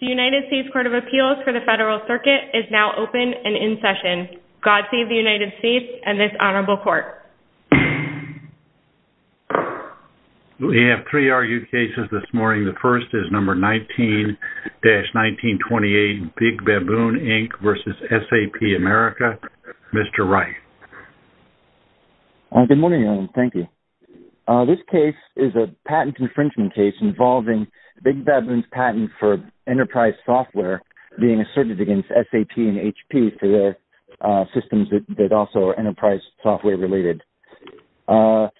The United States Court of Appeals for the Federal Circuit is now open and in session. God save the United States and this honorable court. We have three argued cases this morning. The first is number 19-1928, Big Baboon, Inc. v. SAP America. Mr. Wright. Good morning, Ellen. Thank you. This case is a patent infringement case involving Big Baboon's patent for enterprise software being asserted against SAP and HP for their systems that also are enterprise software related. The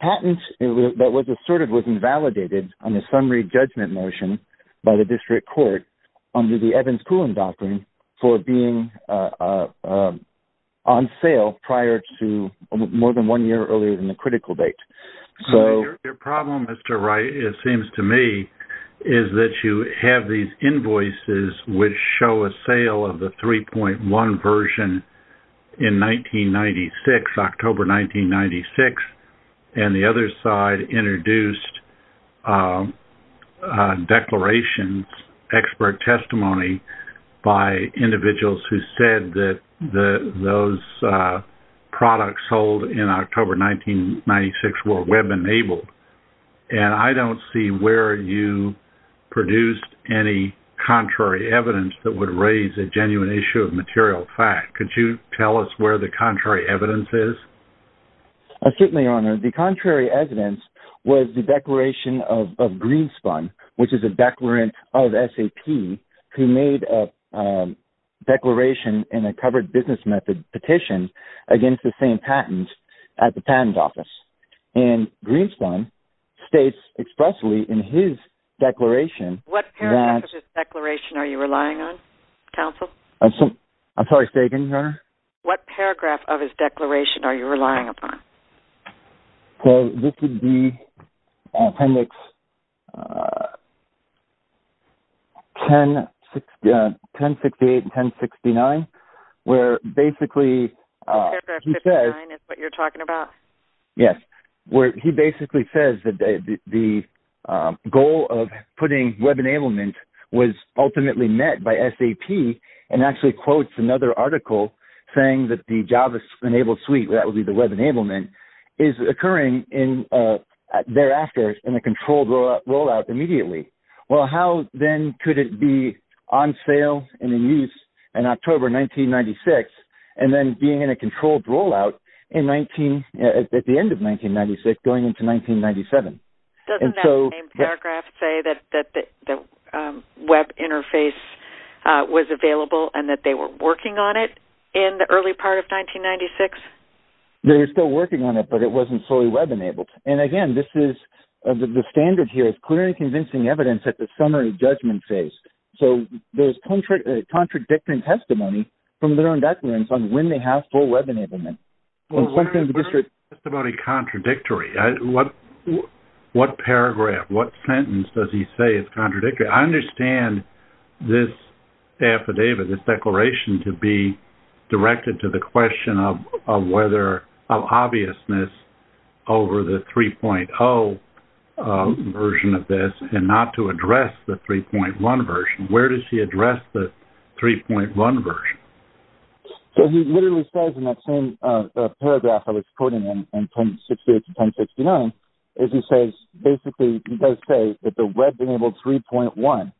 patent that was asserted was invalidated on the summary judgment motion by the district court under the Evans-Coolen Doctrine for being on sale prior to more than one year earlier than the critical date. Your problem, Mr. Wright, it seems to me, is that you have these invoices which show a sale of the 3.1 version in 1996, October 1996, and the other side introduced declarations, expert testimony by individuals who said that those products sold in October 1996 were web-enabled. And I don't see where you produced any contrary evidence that would raise a genuine issue of material fact. Could you tell us where the contrary evidence is? Certainly, Your Honor. The contrary evidence was the declaration of Greenspun, which is a declarant of SAP who made a declaration in a covered business method petition against the same patent at the patent office. And Greenspun states expressly in his declaration that… What paragraph of his declaration are you relying on, counsel? What paragraph of his declaration are you relying upon? This would be appendix 1068 and 1069, where basically he says… 1068 and 1069 is what you're talking about? saying that the Java-enabled suite, that would be the web enablement, is occurring thereafter in a controlled rollout immediately. Well, how then could it be on sale and in use in October 1996 and then being in a controlled rollout at the end of 1996 going into 1997? Doesn't that same paragraph say that the web interface was available and that they were working on it in the early part of 1996? They were still working on it, but it wasn't fully web-enabled. And again, the standard here is clearly convincing evidence at the summary judgment phase. So there's contradictory testimony from their own declarants on when they have full web enablement. What about a contradictory? What paragraph, what sentence does he say is contradictory? I understand this affidavit, this declaration to be directed to the question of whether…of obviousness over the 3.0 version of this and not to address the 3.1 version. Where does he address the 3.1 version? So he literally says in that same paragraph I was quoting in 1068 to 1069 is he says…basically he does say that the web-enabled 3.1.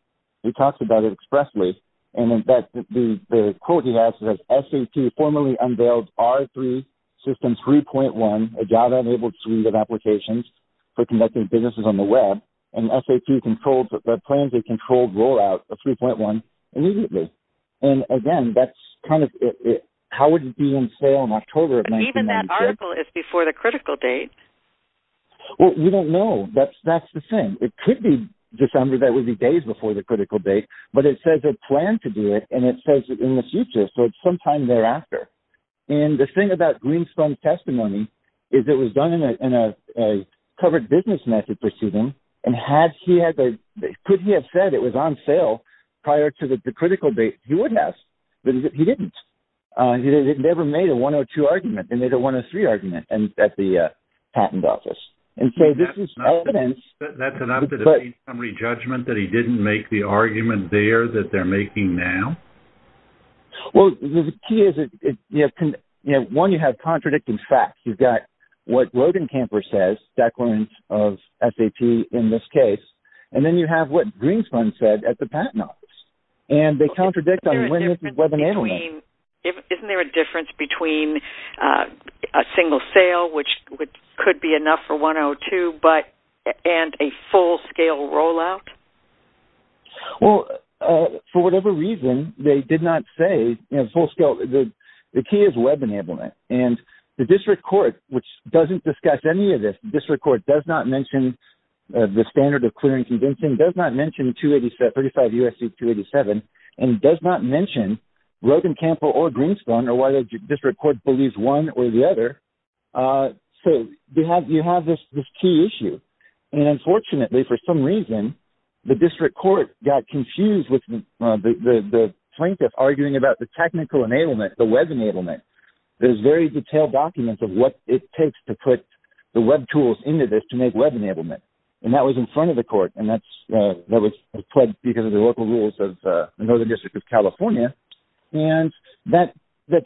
He talks about it expressly. And in fact, the quote he has is that SAP formally unveiled R3 system 3.1, a Java-enabled suite of applications for conducting businesses on the web, and SAP plans a controlled rollout of 3.1 immediately. And again, that's kind of…how would it be in sale in October of 1992? But even that article is before the critical date. Well, we don't know. That's the thing. It could be December. That would be days before the critical date. But it says they plan to do it, and it says in the future. So it's sometime thereafter. And the thing about Greenspun's testimony is it was done in a covered business method proceeding. And had he had…could he have said it was on sale prior to the critical date? He would have, but he didn't. They never made a 102 argument. They made a 103 argument at the patent office. And so this is evidence… That's enough to defeat somebody's judgment that he didn't make the argument there that they're making now? Well, the key is, you know, one, you have contradicting facts. You've got what Rodenkamper says, declarant of SAP in this case, and then you have what Greenspun said at the patent office. And they contradict on when this was webinarily made. Isn't there a difference between a single sale, which could be enough for 102, but…and a full-scale rollout? Well, for whatever reason, they did not say, you know, full-scale… The key is web enablement. And the district court, which doesn't discuss any of this, the district court does not mention the standard of clear and convincing, does not mention 287…35 U.S.C. 287, and does not mention Rodenkamper or Greenspun, or why the district court believes one or the other. So you have this key issue. And unfortunately, for some reason, the district court got confused with the plaintiff arguing about the technical enablement, the web enablement. There's very detailed documents of what it takes to put the web tools into this to make web enablement. And that was in front of the court, and that was because of the local rules of the Northern District of California. And that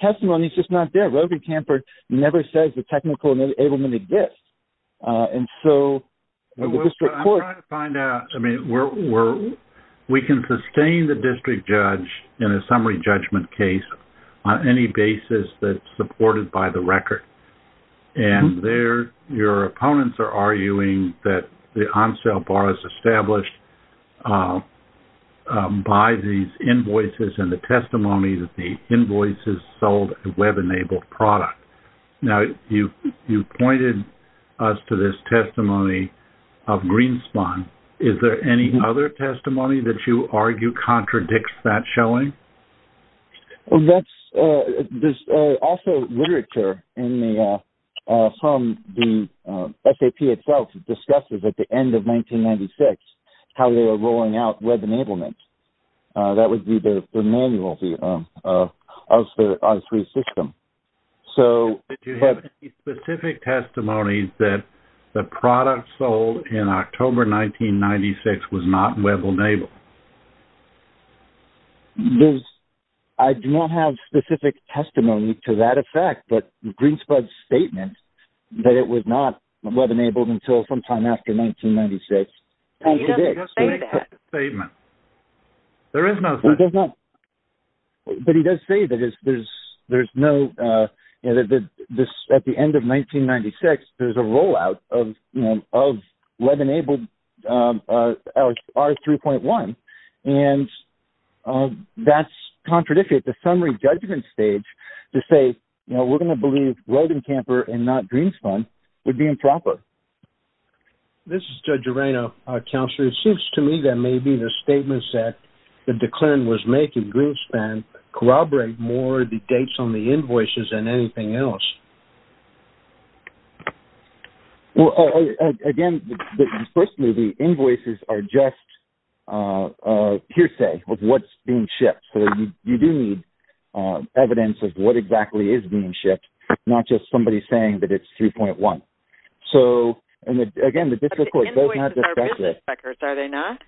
testimony is just not there. Rodenkamper never says the technical enablement exists. And so the district court… I'm trying to find out… I mean, we can sustain the district judge in a summary judgment case on any basis that's supported by the record. And your opponents are arguing that the on-sale bar is established by these invoices and the testimony that the invoices sold a web-enabled product. Now, you pointed us to this testimony of Greenspun. Is there any other testimony that you argue contradicts that showing? There's also literature from the SAP itself that discusses at the end of 1996 how they were rolling out web enablement. That would be the manual of the R3 system. Do you have any specific testimony that the product sold in October 1996 was not web-enabled? I do not have specific testimony to that effect, but Greenspun's statement that it was not web-enabled until sometime after 1996… He doesn't say that. There is no such statement. But he does say that at the end of 1996, there's a rollout of web-enabled R3.1, and that's contradictory at the summary judgment stage to say, you know, we're going to believe Rodent Camper and not Greenspun would be improper. This is Judge Arreno, our counselor. It seems to me that maybe the statements that the client was making, Greenspun, corroborate more the dates on the invoices than anything else. Again, personally, the invoices are just hearsay of what's being shipped. So you do need evidence of what exactly is being shipped, not just somebody saying that it's 3.1. Again, the district court does not discuss this. But the invoices are business records, are they not?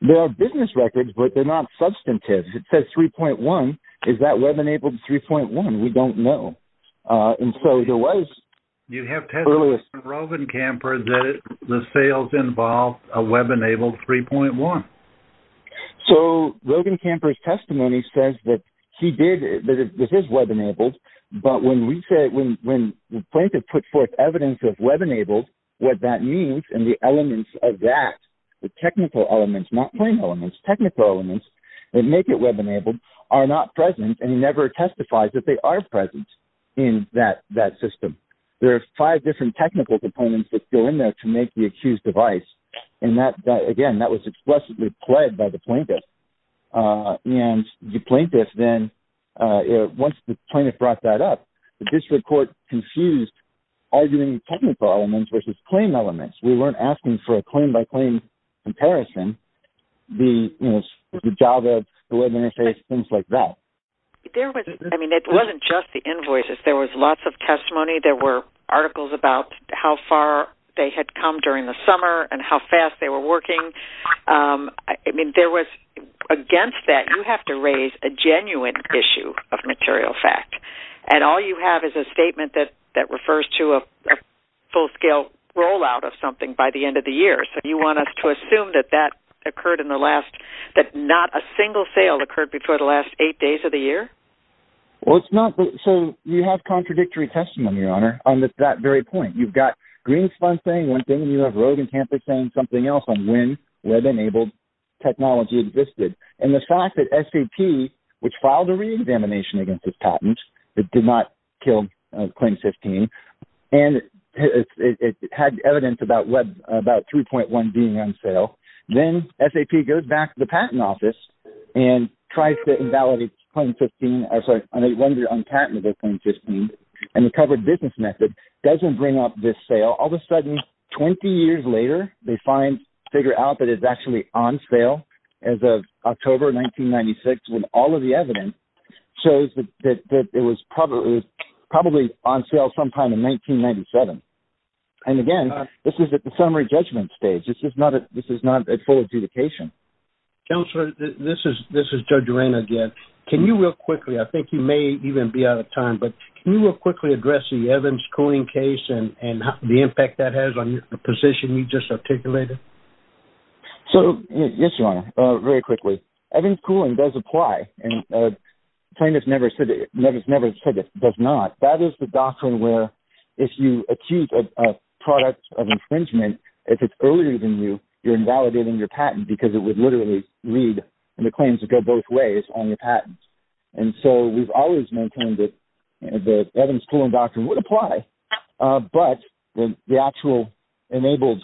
They are business records, but they're not substantive. It says 3.1. Is that web-enabled 3.1? We don't know. You have testimony from Rodent Camper that the sales involved a web-enabled 3.1. So Rodent Camper's testimony says that it is web-enabled, but when the plaintiff put forth evidence of web-enabled, what that means and the elements of that, the technical elements, not plain elements, technical elements that make it web-enabled, are not present, and he never testifies that they are present in that system. There are five different technical components that go in there to make the accused device. Again, that was explicitly pled by the plaintiff. And the plaintiff then, once the plaintiff brought that up, the district court confused arguing technical elements versus plain elements. We weren't asking for a claim-by-claim comparison, the Java, the web interface, things like that. There was, I mean, it wasn't just the invoices. There was lots of testimony. There were articles about how far they had come during the summer and how fast they were working. I mean, there was, against that, you have to raise a genuine issue of material fact, and all you have is a statement that refers to a full-scale rollout of something by the end of the year. So you want us to assume that that occurred in the last, that not a single sale occurred before the last eight days of the year? Well, it's not, so you have contradictory testimony, Your Honor, on that very point. You've got Greenspun saying one thing, and you have Rogencampus saying something else on when web-enabled technology existed. And the fact that SAP, which filed a reexamination against this patent, that did not kill Claim 15, and it had evidence about 3.1 being on sale, then SAP goes back to the Patent Office and tries to invalidate Claim 15, I'm sorry, and they render it unpatented as Claim 15, and the covered business method doesn't bring up this sale. All of a sudden, 20 years later, they figure out that it's actually on sale as of October 1996, when all of the evidence shows that it was probably on sale sometime in 1997. And again, this is at the summary judgment stage. This is not at full adjudication. Counselor, this is Judge Arena again. Can you real quickly, I think you may even be out of time, but can you real quickly address the Evans cooling case and the impact that has on the position you just articulated? So, yes, Your Honor, very quickly. Evans cooling does apply, and plaintiffs never said it does not. That is the doctrine where if you accuse a product of infringement, if it's earlier than you, you're invalidating your patent because it would literally lead the claims to go both ways on your patents. And so we've always maintained that Evans cooling doctrine would apply, but the actual enabled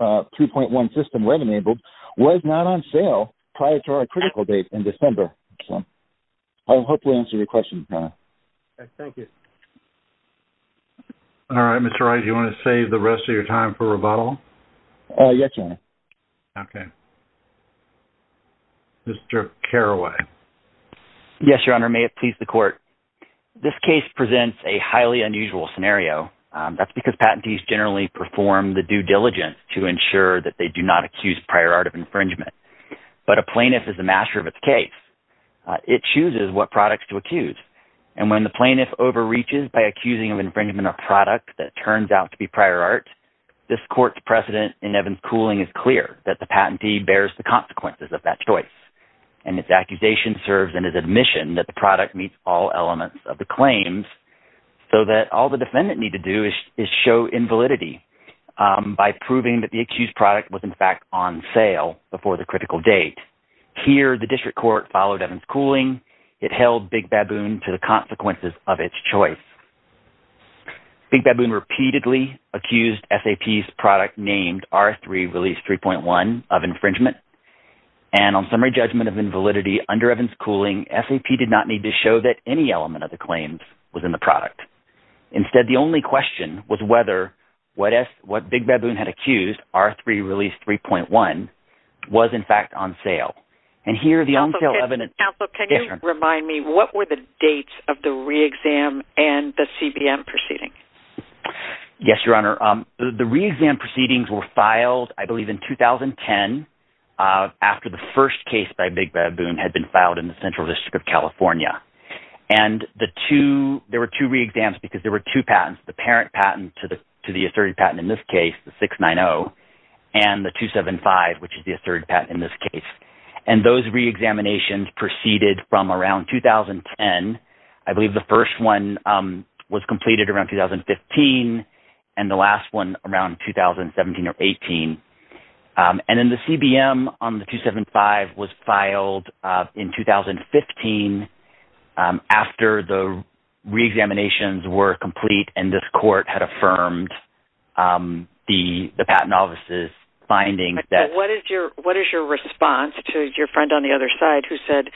3.1 system, web-enabled, was not on sale prior to our critical date in December. I hope that answers your question, Your Honor. Thank you. All right, Mr. Wright, do you want to save the rest of your time for rebuttal? Yes, Your Honor. Okay. Mr. Carraway. Yes, Your Honor, may it please the court. This case presents a highly unusual scenario. That's because patentees generally perform the due diligence to ensure that they do not accuse prior art of infringement. But a plaintiff is the master of its case. It chooses what products to accuse, and when the plaintiff overreaches by accusing of infringement a product that turns out to be prior art, this court's precedent in Evans cooling is clear, that the patentee bears the consequences of that choice, and its accusation serves as an admission that the product meets all elements of the claims so that all the defendant needs to do is show invalidity by proving that the accused product was, in fact, on sale before the critical date. Here, the district court followed Evans cooling. It held Big Baboon to the consequences of its choice. Big Baboon repeatedly accused SAP's product named R3 Release 3.1 of infringement, and on summary judgment of invalidity under Evans cooling, SAP did not need to show that any element of the claims was in the product. Instead, the only question was whether what Big Baboon had accused, R3 Release 3.1, was, in fact, on sale. And here, the on-sale evidence is different. Remind me, what were the dates of the re-exam and the CBM proceeding? Yes, Your Honor. The re-exam proceedings were filed, I believe, in 2010, after the first case by Big Baboon had been filed in the Central District of California. And there were two re-exams because there were two patents, the parent patent to the asserted patent in this case, the 690, and the 275, which is the asserted patent in this case. And those re-examinations proceeded from around 2010. I believe the first one was completed around 2015 and the last one around 2017 or 18. And then the CBM on the 275 was filed in 2015 after the re-examinations were complete and this court had affirmed the patent office's findings. What is your response to your friend on the other side who said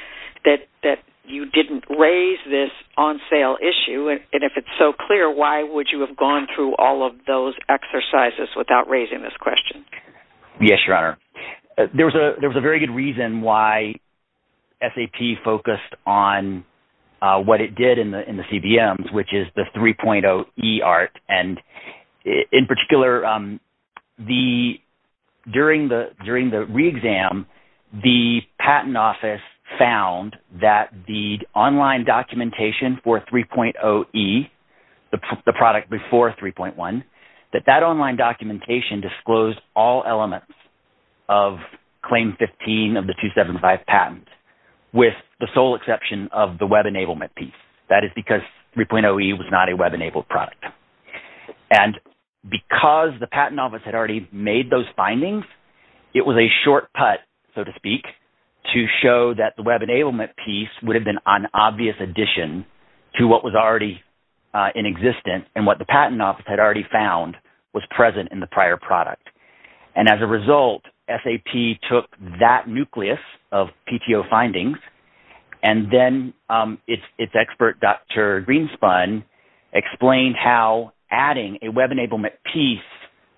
that you didn't raise this on-sale issue? And if it's so clear, why would you have gone through all of those exercises without raising this question? Yes, Your Honor. There was a very good reason why SAP focused on what it did in the CBMs, which is the 3.0 eART. And in particular, during the re-exam, the patent office found that the online documentation for 3.0 e, the product before 3.1, that that online documentation disclosed all elements of Claim 15 of the 275 patent with the sole exception of the web enablement piece. That is because 3.0 e was not a web-enabled product. And because the patent office had already made those findings, it was a short put, so to speak, to show that the web enablement piece would have been an obvious addition to what was already inexistent and what the patent office had already found was present in the prior product. And as a result, SAP took that nucleus of PTO findings, and then its expert, Dr. Greenspun, explained how adding a web enablement piece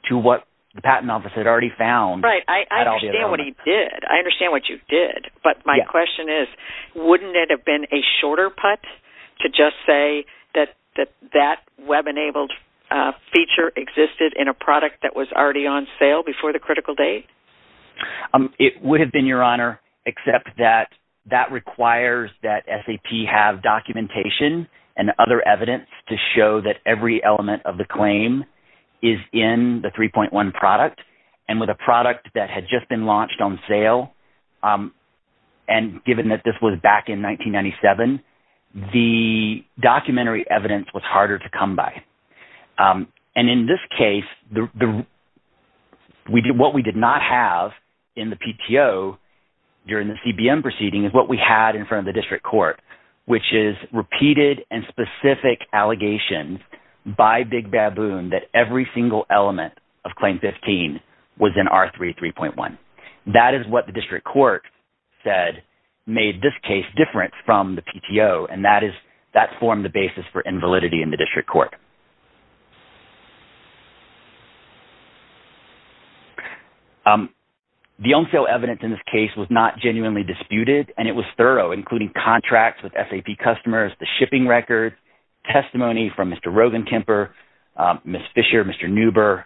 to what the patent office had already found… Right. I understand what he did. I understand what you did. But my question is, wouldn't it have been a shorter put to just say that that web-enabled feature existed in a product that was already on sale before the critical date? It would have been, Your Honor, except that that requires that SAP have documentation and other evidence to show that every element of the claim is in the 3.1 product. And with a product that had just been launched on sale, and given that this was back in 1997, the documentary evidence was harder to come by. And in this case, what we did not have in the PTO during the CBM proceeding is what we had in front of the district court, which is repeated and specific allegations by Big Baboon that every single element of Claim 15 was in R3 3.1. That is what the district court said made this case different from the PTO, and that formed the basis for invalidity in the district court. The on-sale evidence in this case was not genuinely disputed, and it was thorough, including contracts with SAP customers, the shipping record, testimony from Mr. Rogenkemper, Ms. Fisher, Mr. Neuber.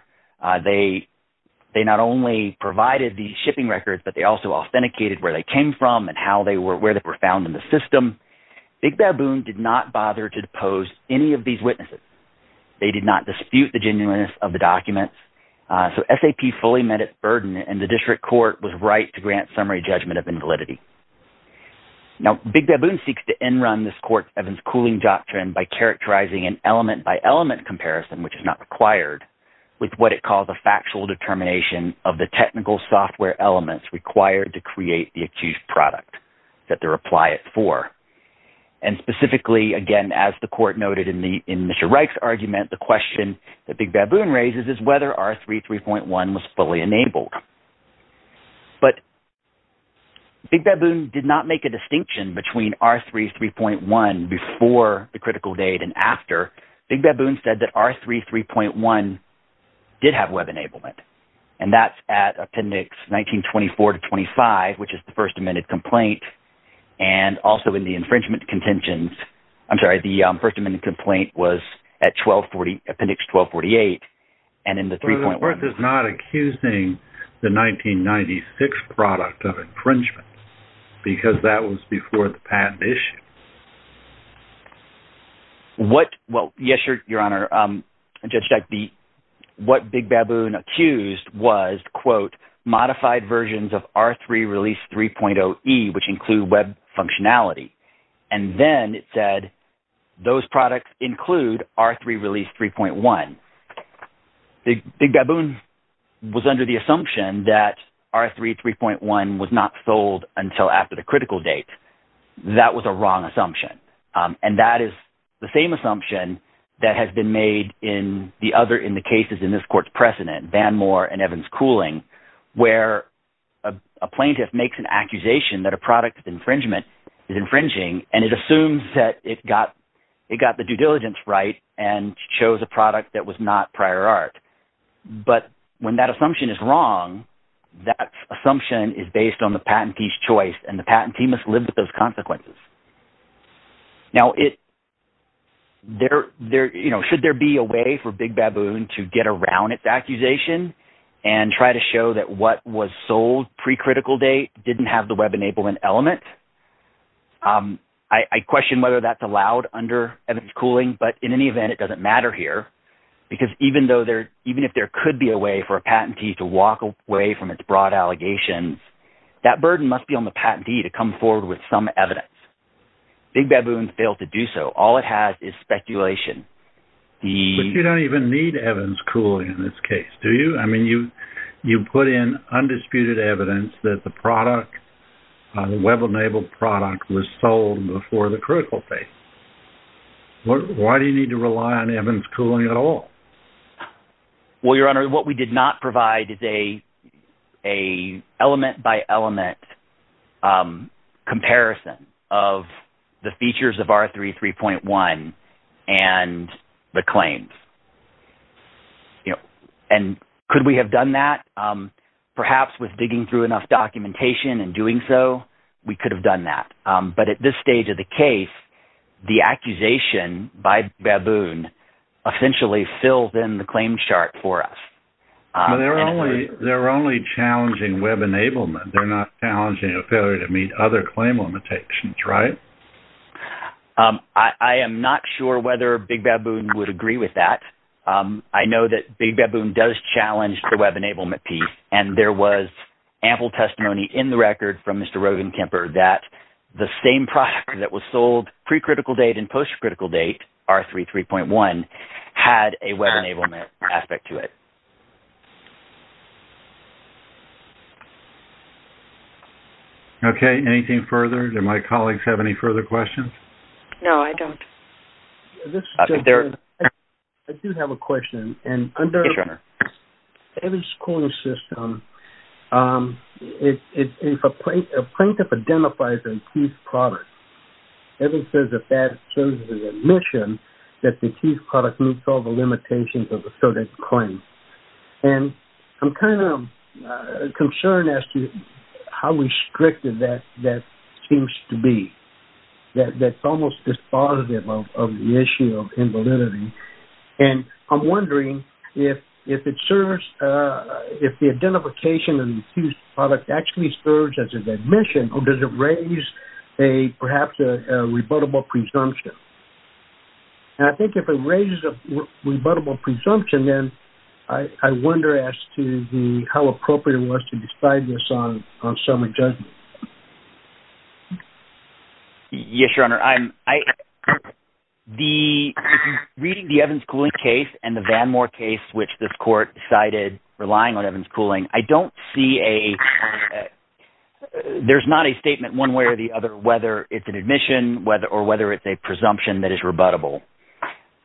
They not only provided the shipping records, but they also authenticated where they came from and how they were – where they were found in the system. Big Baboon did not bother to depose any of these witnesses. They did not dispute the genuineness of the documents. So SAP fully met its burden, and the district court was right to grant summary judgment of invalidity. Now Big Baboon seeks to end-run this court's Evans-Cooling Doctrine by characterizing an element-by-element comparison, which is not required, with what it calls a factual determination of the technical software elements required to create the accused product, that they're applied for. And specifically, again, as the court noted in Mr. Reich's argument, the question that Big Baboon raises is whether R3 3.1 was fully enabled. But Big Baboon did not make a distinction between R3 3.1 before the critical date and after. Big Baboon said that R3 3.1 did have web enablement, and that's at Appendix 1924 to 25, which is the First Amendment complaint. And also in the infringement contentions – I'm sorry. The First Amendment complaint was at Appendix 1248, and in the 3.1 – But the court is not accusing the 1996 product of infringement because that was before the patent issue. What – well, yes, Your Honor, Judge Dyke. What Big Baboon accused was, quote, modified versions of R3 release 3.0e, which include web functionality. And then it said those products include R3 release 3.1. Big Baboon was under the assumption that R3 3.1 was not sold until after the critical date. That was a wrong assumption, and that is the same assumption that has been made in the other – in the cases in this court's precedent, Van Moore and Evans-Cooling…… where a plaintiff makes an accusation that a product of infringement is infringing, and it assumes that it got the due diligence right and chose a product that was not prior art. But when that assumption is wrong, that assumption is based on the patentee's choice, and the patentee must live with those consequences. Now, should there be a way for Big Baboon to get around its accusation and try to show that what was sold pre-critical date didn't have the web-enabling element? I question whether that's allowed under Evans-Cooling, but in any event, it doesn't matter here because even if there could be a way for a patentee to walk away from its broad allegations, that burden must be on the patentee to come forward with some evidence. Big Baboon failed to do so. All it has is speculation. But you don't even need Evans-Cooling in this case, do you? I mean, you put in undisputed evidence that the product, the web-enabled product, was sold before the critical date. Why do you need to rely on Evans-Cooling at all? Well, Your Honor, what we did not provide is an element-by-element comparison of the features of R33.1 and the claims. Could we have done that? Perhaps with digging through enough documentation and doing so, we could have done that. But at this stage of the case, the accusation by Big Baboon essentially fills in the claim chart for us. They're only challenging web-enablement. They're not challenging a failure to meet other claim limitations, right? I am not sure whether Big Baboon would agree with that. I know that Big Baboon does challenge the web-enablement piece. And there was ample testimony in the record from Mr. Rogan Kemper that the same product that was sold pre-critical date and post-critical date, R33.1, had a web-enablement aspect to it. Okay. Anything further? Do my colleagues have any further questions? No, I don't. I do have a question. Yes, Your Honor. Under the evidence scoring system, if a plaintiff identifies a deceased product, evidence says that that serves as admission that the deceased product meets all the limitations of the sorted claim. And I'm kind of concerned as to how restrictive that seems to be. That's almost dispositive of the issue of invalidity. And I'm wondering if it serves, if the identification of the accused product actually serves as an admission, or does it raise perhaps a rebuttable presumption? And I think if it raises a rebuttable presumption, then I wonder as to how appropriate it was to decide this on summer judgment. Yes, Your Honor. Reading the Evans Cooling case and the Vanmore case, which this court decided relying on Evans Cooling, I don't see a, there's not a statement one way or the other whether it's an admission or whether it's a presumption that is rebuttable.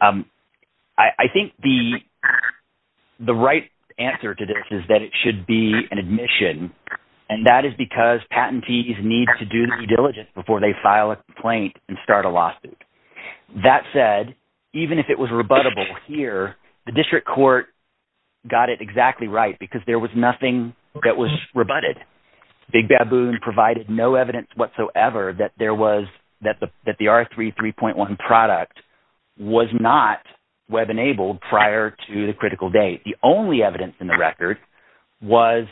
I think the right answer to this is that it should be an admission, and that is because patentees need to do the due diligence before they file a complaint and start a lawsuit. That said, even if it was rebuttable here, the district court got it exactly right because there was nothing that was rebutted. Big Baboon provided no evidence whatsoever that there was, that the R3 3.1 product was not web-enabled prior to the critical date. The only evidence in the record was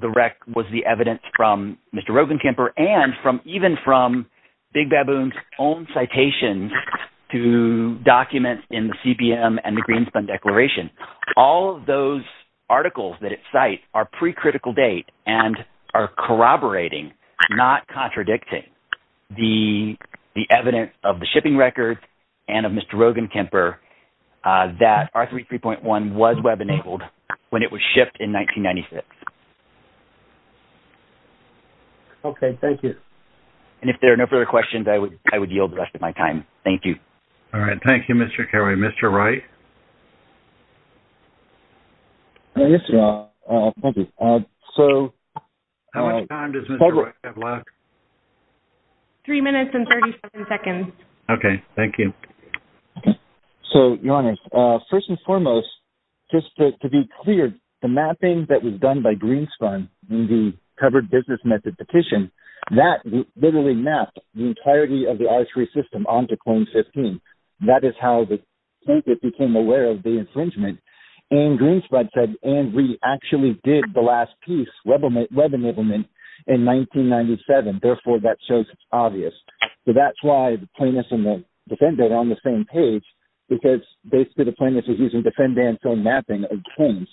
the evidence from Mr. Roggenkamper and even from Big Baboon's own citations to documents in the CPM and the Greenspan Declaration. All of those articles that it cites are pre-critical date and are corroborating, not contradicting, the evidence of the shipping records and of Mr. Roggenkamper that R3 3.1 was web-enabled when it was shipped in 1996. Okay, thank you. And if there are no further questions, I would yield the rest of my time. Thank you. All right, thank you, Mr. Carey. Mr. Wright? Yes, John. Thank you. How much time does Mr. Wright have left? Three minutes and 37 seconds. Okay, thank you. So, Your Honor, first and foremost, just to be clear, the mapping that was done by Greenspan in the covered business method petition, that literally mapped the entirety of the R3 system onto claim 15. That is how the plaintiff became aware of the infringement. And Greenspan said, and we actually did the last piece, web enablement, in 1997. Therefore, that shows it's obvious. So that's why the plaintiff and the defendant are on the same page, because basically the plaintiff is using defendant's own mapping of claims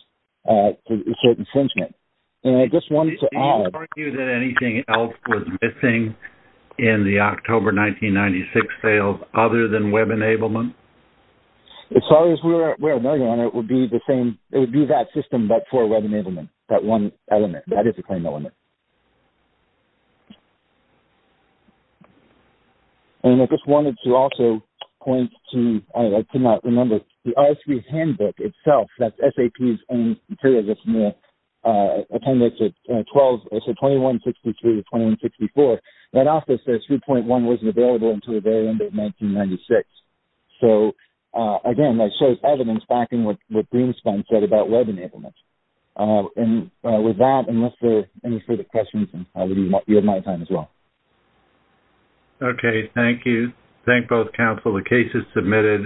to assert infringement. Did you argue that anything else was missing in the October 1996 sales other than web enablement? As far as we're aware, Your Honor, it would be the same. It would be that system, but for web enablement, that one element. That is a claim element. And I just wanted to also point to, I could not remember, the R3 handbook itself, that's SAP's own materials, it's in the appendix at 12, so 2162 to 2164. That also says 3.1 wasn't available until the very end of 1996. So, again, that shows evidence backing what Greenspan said about web enablement. And with that, unless there are any further questions, we have my time as well. Okay, thank you. Thank both counsel. The case is submitted.